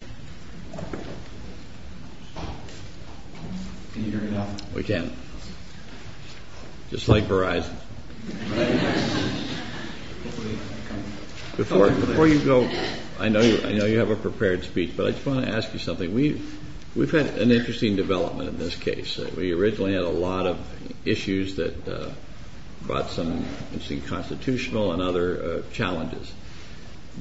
Can you hear me now? We can. Just like Verizon. Before you go, I know you have a prepared speech, but I just want to ask you something. We've had an interesting development in this case. We originally had a lot of issues that brought some constitutional and other challenges.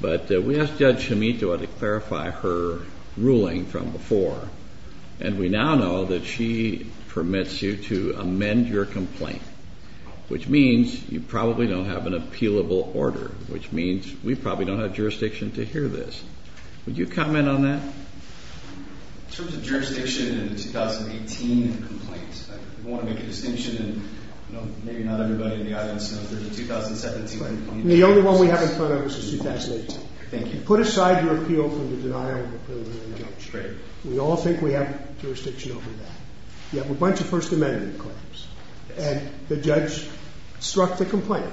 But we asked Judge Schimito to clarify her ruling from before, and we now know that she permits you to amend your complaint, which means you probably don't have an appealable order, which means we probably don't have jurisdiction to hear this. Would you comment on that? In terms of jurisdiction in the 2018 complaint, I want to make a distinction, and maybe not everybody in the audience knows, but in the 2017 complaint… The only one we have in front of us is 2018. Thank you. Put aside your appeal from the denial of the preliminary injunction. We all think we have jurisdiction over that. You have a bunch of First Amendment claims, and the judge struck the complaint.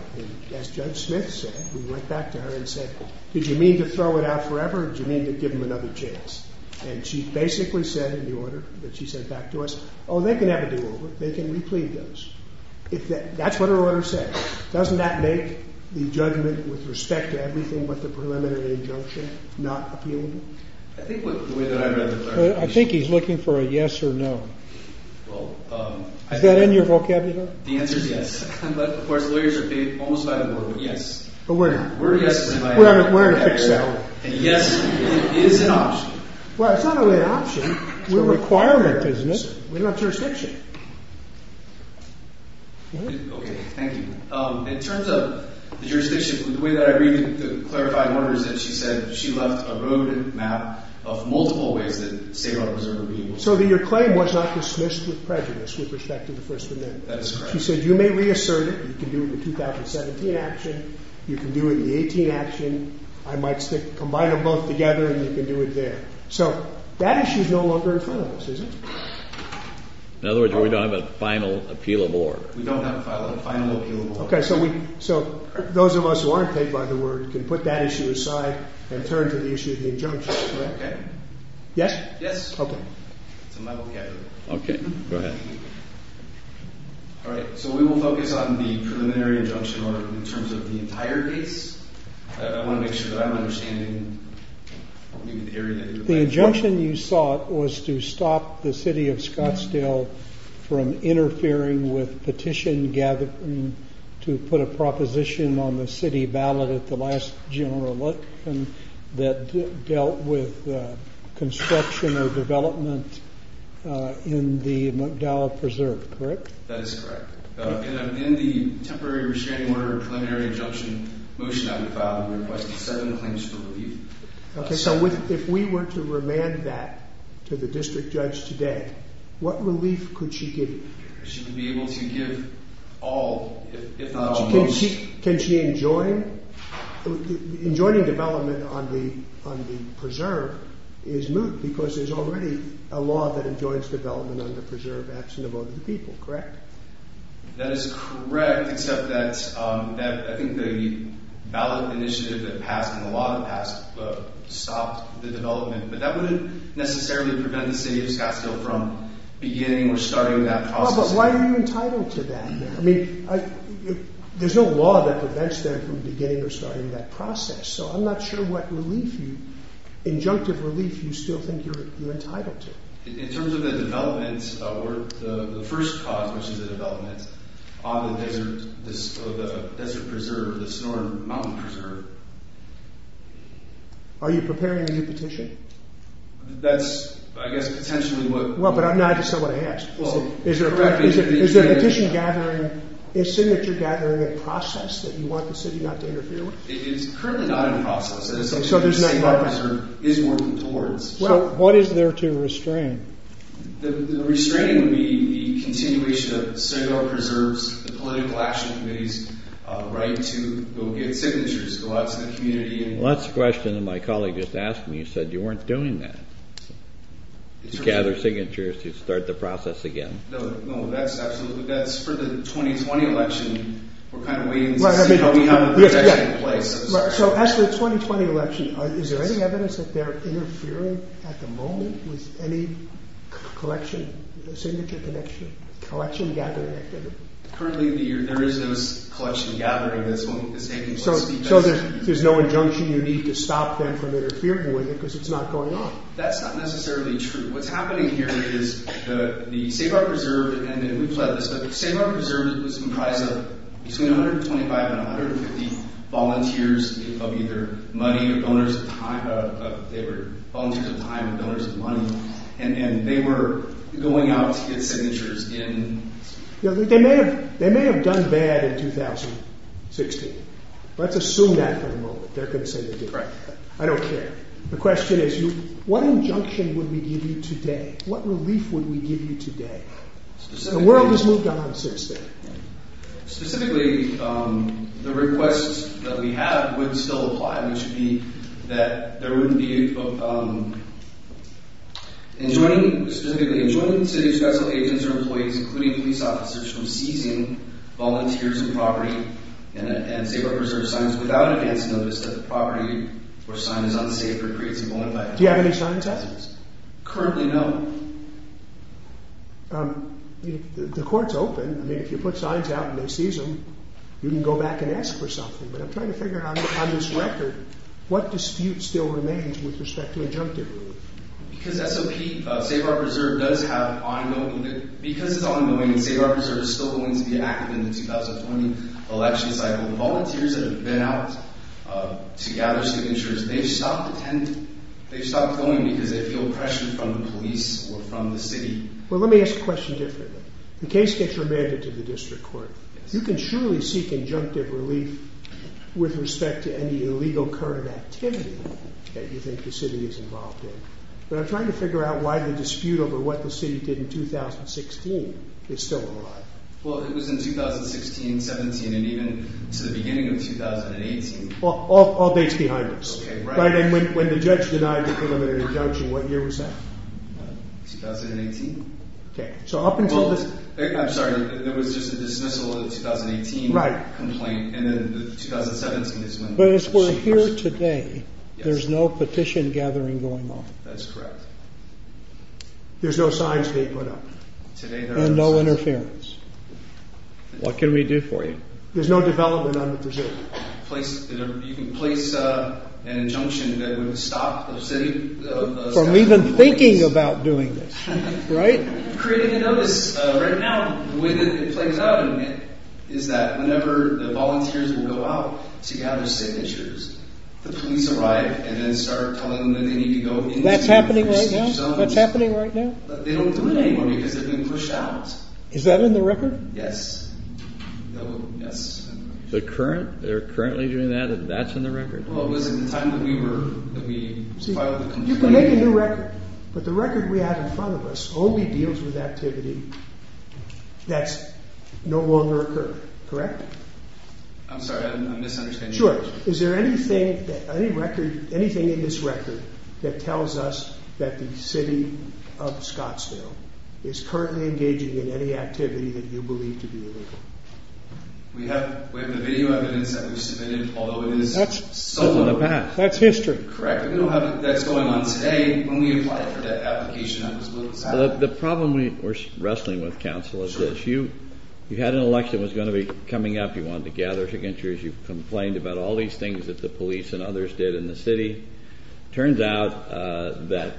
As Judge Smith said, we went back to her and said, did you mean to throw it out forever or did you mean to give them another chance? And she basically said in the order that she sent back to us, oh, they can have a do-over. They can replead those. That's what her order said. Doesn't that make the judgment with respect to everything but the preliminary injunction not appealable? I think the way that I read it… I think he's looking for a yes or no. Well… Is that in your vocabulary? The answer is yes. But of course, lawyers are paid almost by the board. Yes. But we're not. We're in a fixed salary. And yes, it is an option. Well, it's not only an option. It's a requirement, isn't it? We don't have jurisdiction. Okay. Thank you. In terms of the jurisdiction, the way that I read the clarifying order is that she said she left a road map of multiple ways that state law preservers are being… So that your claim was not dismissed with prejudice with respect to the First Amendment. That is correct. She said you may reassert it. You can do it in the 2017 action. You can do it in the 18 action. I might stick…combine them both together and you can do it there. So that issue is no longer in front of us, is it? In other words, we don't have a final appealable order. We don't have a final appealable order. Okay. So we…so those of us who aren't paid by the board can put that issue aside and turn to the issue of the injunction, correct? Okay. Yes? Yes. Okay. Okay. Go ahead. All right. So we will focus on the preliminary injunction order in terms of the entire case. I want to make sure that I'm understanding… The injunction you sought was to stop the city of Scottsdale from interfering with petition gathering to put a proposition on the city ballot at the last general election that dealt with construction or development in the McDowell Preserve, correct? That is correct. In the temporary restraining order preliminary injunction motion that we filed, we requested seven claims for relief. Okay. So if we were to remand that to the district judge today, what relief could she give? She would be able to give all, if not all, most. Can she enjoin? Enjoining development on the preserve is moot because there's already a law that enjoins development on the preserve absent of other people, correct? That is correct, except that I think the ballot initiative that passed in the law that passed stopped the development. But that wouldn't necessarily prevent the city of Scottsdale from beginning or starting that process. But why are you entitled to that? I mean, there's no law that prevents them from beginning or starting that process. So I'm not sure what relief, injunctive relief, you still think you're entitled to. In terms of the development, the first cause, which is the development on the desert preserve, the Sonoran Mountain Preserve. Are you preparing a new petition? That's, I guess, potentially what... Well, but I'm not just saying what I asked. Is there a petition gathering, is signature gathering a process that you want the city not to interfere with? It's currently not in process. So there's no... The Sonoran Mountain Preserve is working towards... So what is there to restrain? The restraining would be the continuation of Sonoran Preserve's political action committee's right to go get signatures, go out to the community and... Well, that's the question that my colleague just asked me. He said you weren't doing that, to gather signatures to start the process again. No, no, that's absolutely... That's for the 2020 election. We're kind of waiting to see how we have the protection in place. So as for the 2020 election, is there any evidence that they're interfering at the moment with any collection, signature collection gathering activity? Currently, there is no collection gathering that's taking place. So there's no injunction you need to stop them from interfering with it because it's not going on? That's not necessarily true. What's happening here is the Save Our Preserve, and we've led this, but the Save Our Preserve is comprised of between 125 and 150 volunteers of either money or donors of time. They were volunteers of time and donors of money. And they were going out to get signatures in... They may have done bad in 2016. Let's assume that for the moment. They're going to say they did. I don't care. The question is, what injunction would we give you today? What relief would we give you today? The world has moved on since then. Specifically, the request that we have would still apply. It should be that there wouldn't be... In joining, specifically, in joining cities, special agents or employees, including police officers, from seizing volunteers and property and Save Our Preserve signs without advance notice that the property or sign is unsafe or creates a violence. Do you have any signs out? Currently, no. The court's open. I mean, if you put signs out and they seize them, you can go back and ask for something. But I'm trying to figure out, on this record, what dispute still remains with respect to injunctive relief. Because SOP, Save Our Preserve, does have ongoing... Because it's ongoing and Save Our Preserve is still going to be active in the 2020 election cycle, the volunteers that have been out to gather signatures, they've stopped attending. They've stopped going because they feel pressure from the police or from the city. Well, let me ask the question differently. The case gets remanded to the district court. You can surely seek injunctive relief with respect to any illegal current activity that you think the city is involved in. But I'm trying to figure out why the dispute over what the city did in 2016 is still alive. Well, it was in 2016, 17, and even to the beginning of 2018. All dates behind us. And when the judge denied the preliminary injunction, what year was that? 2018. I'm sorry, there was just a dismissal of the 2018 complaint, and then 2017 is when... But as we're here today, there's no petition gathering going on. That's correct. There's no signs being put up. And no interference. What can we do for you? There's no development on the pursuit. You can place an injunction that would stop the city... From even thinking about doing this, right? Creating a notice. Right now, the way that it plays out is that whenever the volunteers will go out to gather signatures, the police arrive and then start telling them that they need to go in... That's happening right now? That's happening right now? They don't do it anymore because they've been pushed out. Is that in the record? Yes. They're currently doing that, and that's in the record? Well, it was at the time that we filed the complaint. You can make a new record, but the record we have in front of us only deals with activity that no longer occurs, correct? I'm sorry, I'm misunderstanding. Is there anything in this record that tells us that the city of Scottsdale is currently engaging in any activity that you believe to be illegal? We have the video evidence that we submitted, although it is... That's history. That's history, correct. We don't have it. That's going on today. When we applied for that application, I was a little sad. The problem we're wrestling with, counsel, is this. You had an election that was going to be coming up. You wanted to gather signatures. You complained about all these things that the police and others did in the city. It turns out that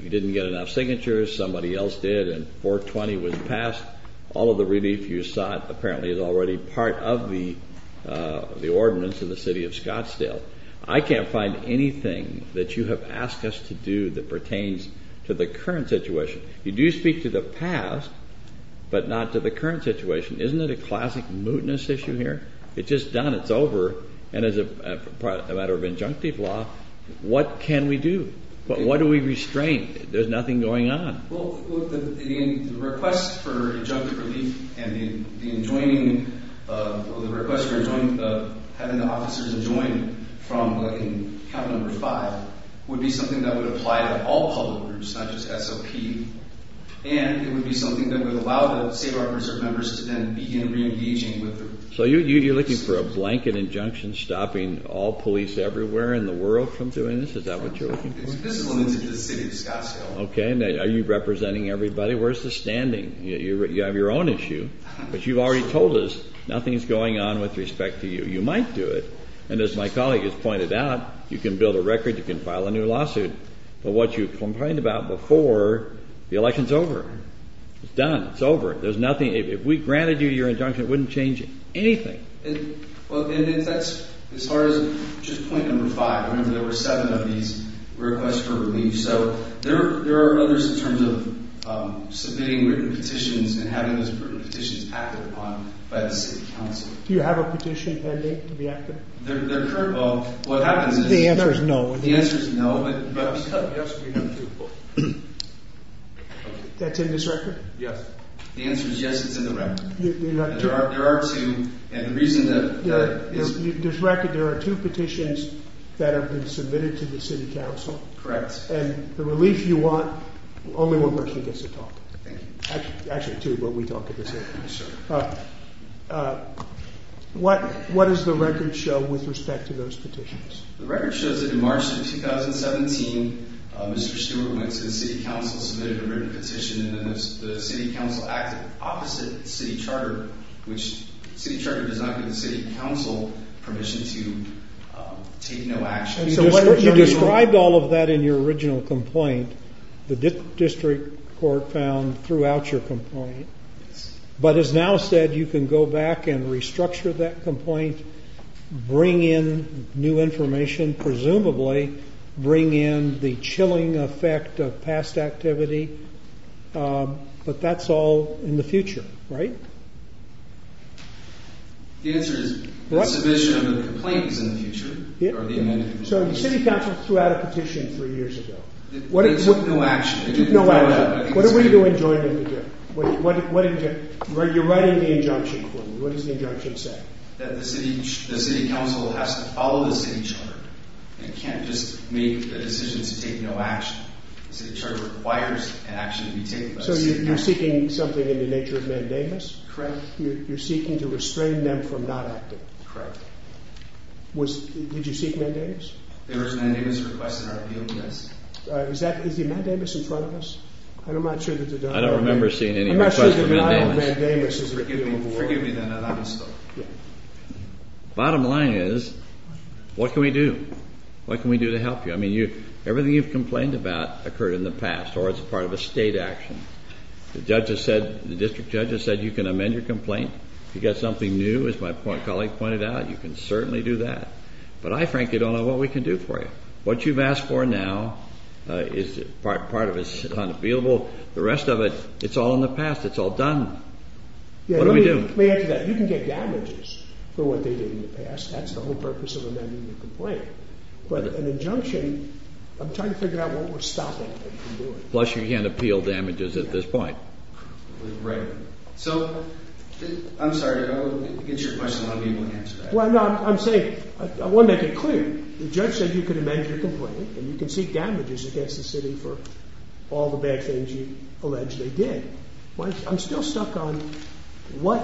you didn't get enough signatures. Somebody else did, and 420 was passed. All of the relief you sought apparently is already part of the ordinance in the city of Scottsdale. I can't find anything that you have asked us to do that pertains to the current situation. You do speak to the past, but not to the current situation. Isn't it a classic mootness issue here? It's just done. It's over. And as a matter of injunctive law, what can we do? What do we restrain? There's nothing going on. The request for injunctive relief and the request for having the officers join from count number five would be something that would apply to all public groups, not just SOP. And it would be something that would allow the Save Our Preserve members to then begin reengaging. So you're looking for a blanket injunction stopping all police everywhere in the world from doing this? Is that what you're looking for? This is limited to the city of Scottsdale. Okay. Are you representing everybody? Where's the standing? You have your own issue. But you've already told us nothing's going on with respect to you. You might do it. And as my colleague has pointed out, you can build a record. You can file a new lawsuit. But what you complained about before, the election's over. It's done. It's over. There's nothing. If we granted you your injunction, it wouldn't change anything. Well, and that's as far as just point number five. Remember, there were seven of these requests for relief. So there are others in terms of submitting written petitions and having those written petitions acted upon by the city council. Do you have a petition to be acted? Well, what happens is the answer is no. The answer is no. But because we have two. That's in this record? Yes. The answer is yes, it's in the record. There are two. And the reason that is. In this record, there are two petitions that have been submitted to the city council. Correct. And the relief you want, only one person gets to talk. Thank you. Actually, two, but we talk at the same time. Sure. What does the record show with respect to those petitions? The record shows that in March of 2017, Mr. Stewart went to the city council and submitted a written petition. And then the city council acted opposite the city charter, which the city charter does not give the city council permission to take no action. You described all of that in your original complaint. The district court found throughout your complaint. But as now said, you can go back and restructure that complaint, bring in new information, and presumably bring in the chilling effect of past activity. But that's all in the future, right? The answer is the submission of the complaint is in the future. So the city council threw out a petition three years ago. It took no action. It took no action. What are we going to do? You're writing the injunction for me. What does the injunction say? That the city council has to follow the city charter and can't just make the decision to take no action. The city charter requires an action to be taken by the city council. So you're seeking something in the nature of mandamus? Correct. You're seeking to restrain them from not acting? Correct. Did you seek mandamus? There was a mandamus request in our appeal, yes. Is the mandamus in front of us? I don't remember seeing any request for mandamus. Forgive me, then, on that. Bottom line is, what can we do? What can we do to help you? I mean, everything you've complained about occurred in the past or is part of a state action. The district judge has said you can amend your complaint. If you've got something new, as my colleague pointed out, you can certainly do that. But I frankly don't know what we can do for you. What you've asked for now is part of it is unavailable. The rest of it, it's all in the past. It's all done. What do we do? Let me answer that. You can get damages for what they did in the past. That's the whole purpose of amending your complaint. But an injunction, I'm trying to figure out what we're stopping you from doing. Plus, you can't appeal damages at this point. Right. So, I'm sorry to go against your question. I want to be able to answer that. Well, no, I'm saying, I want to make it clear. The judge said you could amend your complaint and you can seek damages against the city for all the bad things you allege they did. I'm still stuck on what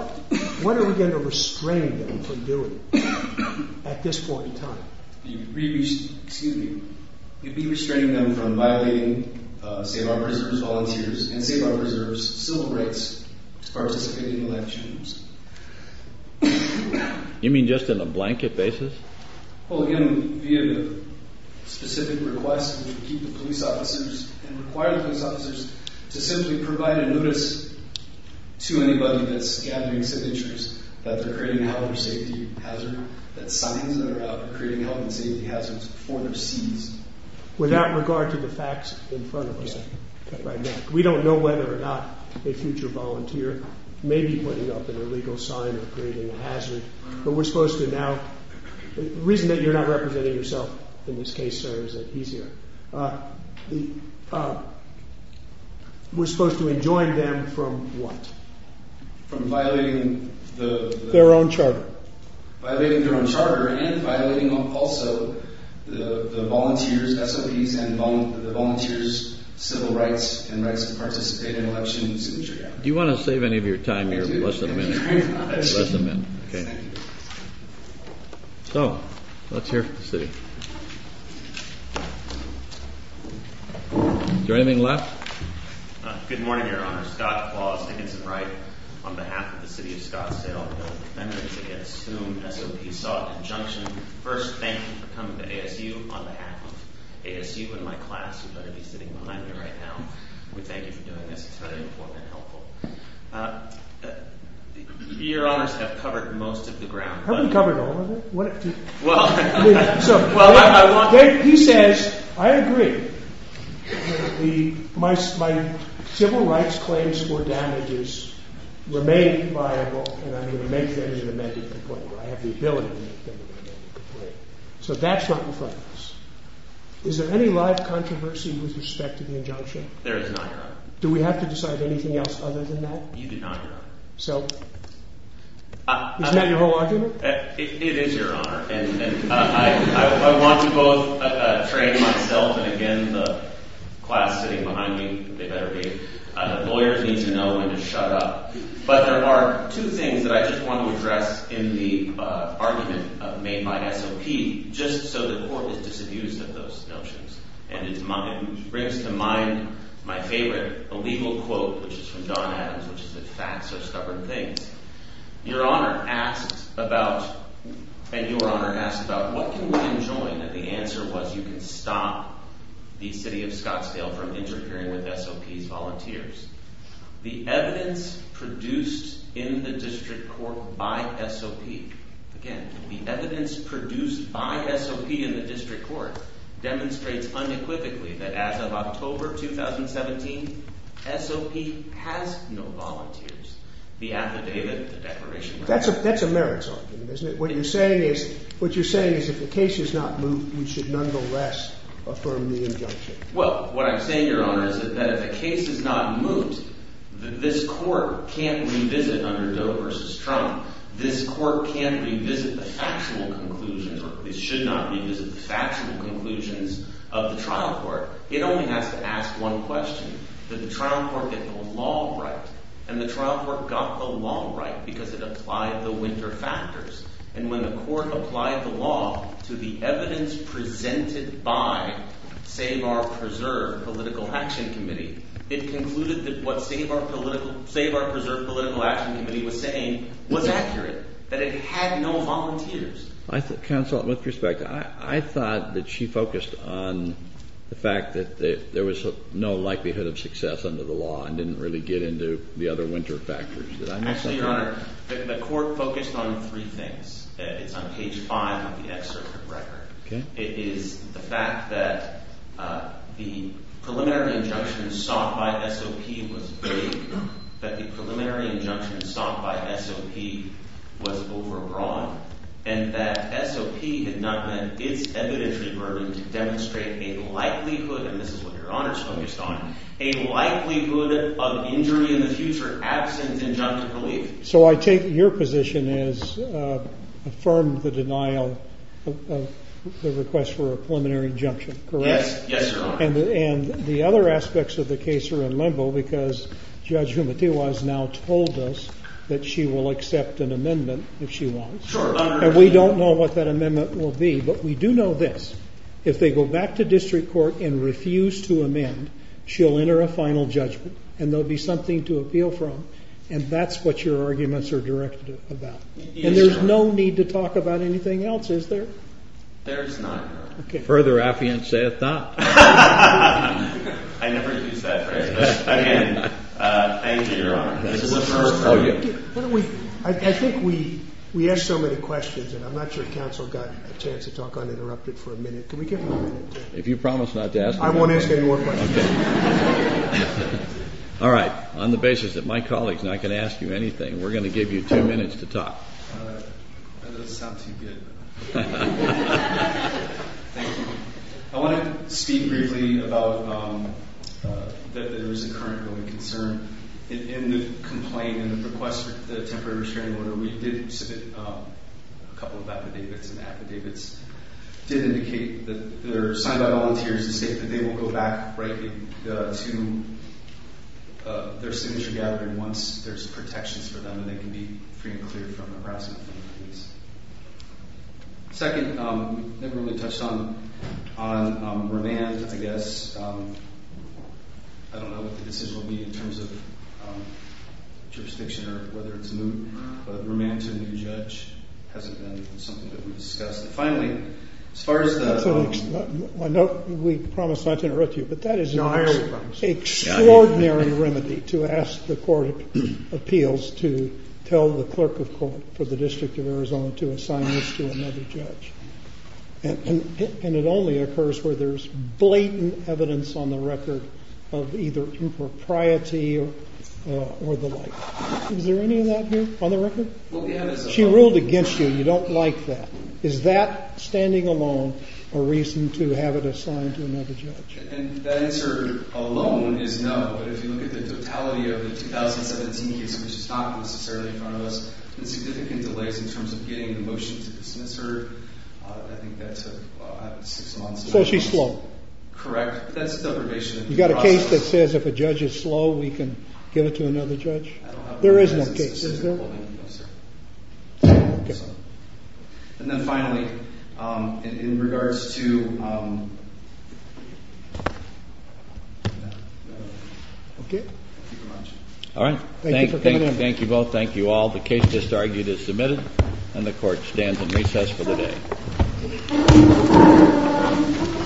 are we going to restrain them from doing at this point in time? You'd be restraining them from violating Save Our Preserves volunteers and Save Our Preserves civil rights to participate in elections. You mean just in a blanket basis? Well, again, via the specific request, we would keep the police officers and require the police officers to simply provide a notice to anybody that's gathering signatures that they're creating a health and safety hazard, that signs that are out are creating health and safety hazards for their cities. Without regard to the facts in front of us right now. We don't know whether or not a future volunteer may be putting up an illegal sign or creating a hazard. But we're supposed to now, the reason that you're not representing yourself in this case, sir, is that he's here. We're supposed to adjoin them from what? From violating their own charter. Violating their own charter and violating also the volunteers, SOPs and the volunteers' civil rights and rights to participate in elections in Chicago. Do you want to save any of your time here? So, let's hear from the city. Is there anything left? Good morning, Your Honor. Scott Claus, Dickinson-Wright. On behalf of the city of Scottsdale, I'm going to assume SOPs saw a conjunction. First, thank you for coming to ASU. On behalf of ASU and my class, you better be sitting behind me right now. We thank you for doing this. It's very important and helpful. Your Honors have covered most of the ground. Have we covered all of it? He says, I agree. My civil rights claims for damages remain viable and I'm going to make them an amended complaint. I have the ability to make them an amended complaint. So that's right in front of us. Is there any live controversy with respect to the injunction? There is not, Your Honor. Do we have to decide anything else other than that? You do not, Your Honor. So, isn't that your whole argument? It is, Your Honor. I want to both train myself and, again, the class sitting behind me. They better be. The lawyers need to know when to shut up. But there are two things that I just want to address in the argument made by SOP just so the Court is disabused of those notions. And it brings to mind my favorite illegal quote, which is from Don Adams, which is that facts are stubborn things. Your Honor asked about, and Your Honor asked about, what can we enjoin? And the answer was you can stop the City of Scottsdale from interfering with SOP's volunteers. The evidence produced in the District Court by SOP, again, the evidence produced by SOP in the District Court, demonstrates unequivocally that as of October 2017, SOP has no volunteers. The affidavit, the declaration... That's a merits argument, isn't it? What you're saying is if the case is not moved, we should nonetheless affirm the injunction. Well, what I'm saying, Your Honor, is that if the case is not moved, this Court can't revisit under Doe v. Trump, this Court can't revisit the factual conclusions, or it should not revisit the factual conclusions of the trial court. It only has to ask one question, that the trial court get the law right and the trial court got the law right because it applied the winter factors. And when the Court applied the law to the evidence presented by Save Our Preserve Political Action Committee, it concluded that what Save Our Preserve Political Action Committee was saying was accurate, that it had no volunteers. Counsel, with respect, I thought that she focused on the fact that there was no likelihood of success under the law and didn't really get into the other winter factors. Actually, Your Honor, the Court focused on three things. It's on page 5 of the excerpt of the record. It is the fact that the preliminary injunction sought by SOP was vague, that the preliminary injunction sought by SOP was overbroad, and that SOP had not met its evidentiary burden to demonstrate a likelihood, and this is what Your Honor is focused on, a likelihood of injury in the future absent injunctive relief. So I take it your position is affirmed the denial of the request for a preliminary injunction, correct? Yes, Your Honor. And the other aspects of the case are in limbo because Judge Humatiwa has now told us that she will accept an amendment if she wants. Sure, Your Honor. And we don't know what that amendment will be, but we do know this. If they go back to district court and refuse to amend, she'll enter a final judgment and there'll be something to appeal from, and that's what your arguments are directed about. And there's no need to talk about anything else, is there? There is not, Your Honor. Further affiance saith not. I never use that phrase. Again, thank you, Your Honor. I think we asked so many questions and I'm not sure counsel got a chance to talk uninterrupted for a minute. If you promise not to ask... I won't ask any more questions. All right, on the basis that my colleague is not going to ask you anything, we're going to give you two minutes to talk. That doesn't sound too good. Thank you. I want to speak briefly about that there is a current growing concern. In the complaint and the request for the temporary restraining order, we did submit a couple of affidavits, and the affidavits did indicate that they're signed by volunteers and state that they will go back, rightly, to their signature gathering once there's protections for them and they can be free and clear from harassment. Second, we never really touched on remand, I guess. I don't know what the decision will be in terms of jurisdiction or whether it's moot, but remand to a new judge hasn't been something that we've discussed. Finally, as far as the... I know we promised not to interrupt you, but that is an extraordinary remedy to ask the court of appeals to tell the clerk of court for the District of Arizona to assign this to another judge. And it only occurs where there's blatant evidence on the record of either impropriety or the like. Is there any of that here on the record? She ruled against you, and you don't like that. Is that, standing alone, a reason to have it assigned to another judge? And that answer alone is no, but if you look at the totality of the 2017 case, which is not necessarily in front of us, there's significant delays in terms of getting the motion to dismiss her. I think that took six months... So she's slow. Correct. That's deprivation... You got a case that says if a judge is slow, we can give it to another judge? There is no case. And then finally, in regards to... Okay. All right. Thank you both. Thank you all. The case just argued is submitted, and the court stands in recess for the day.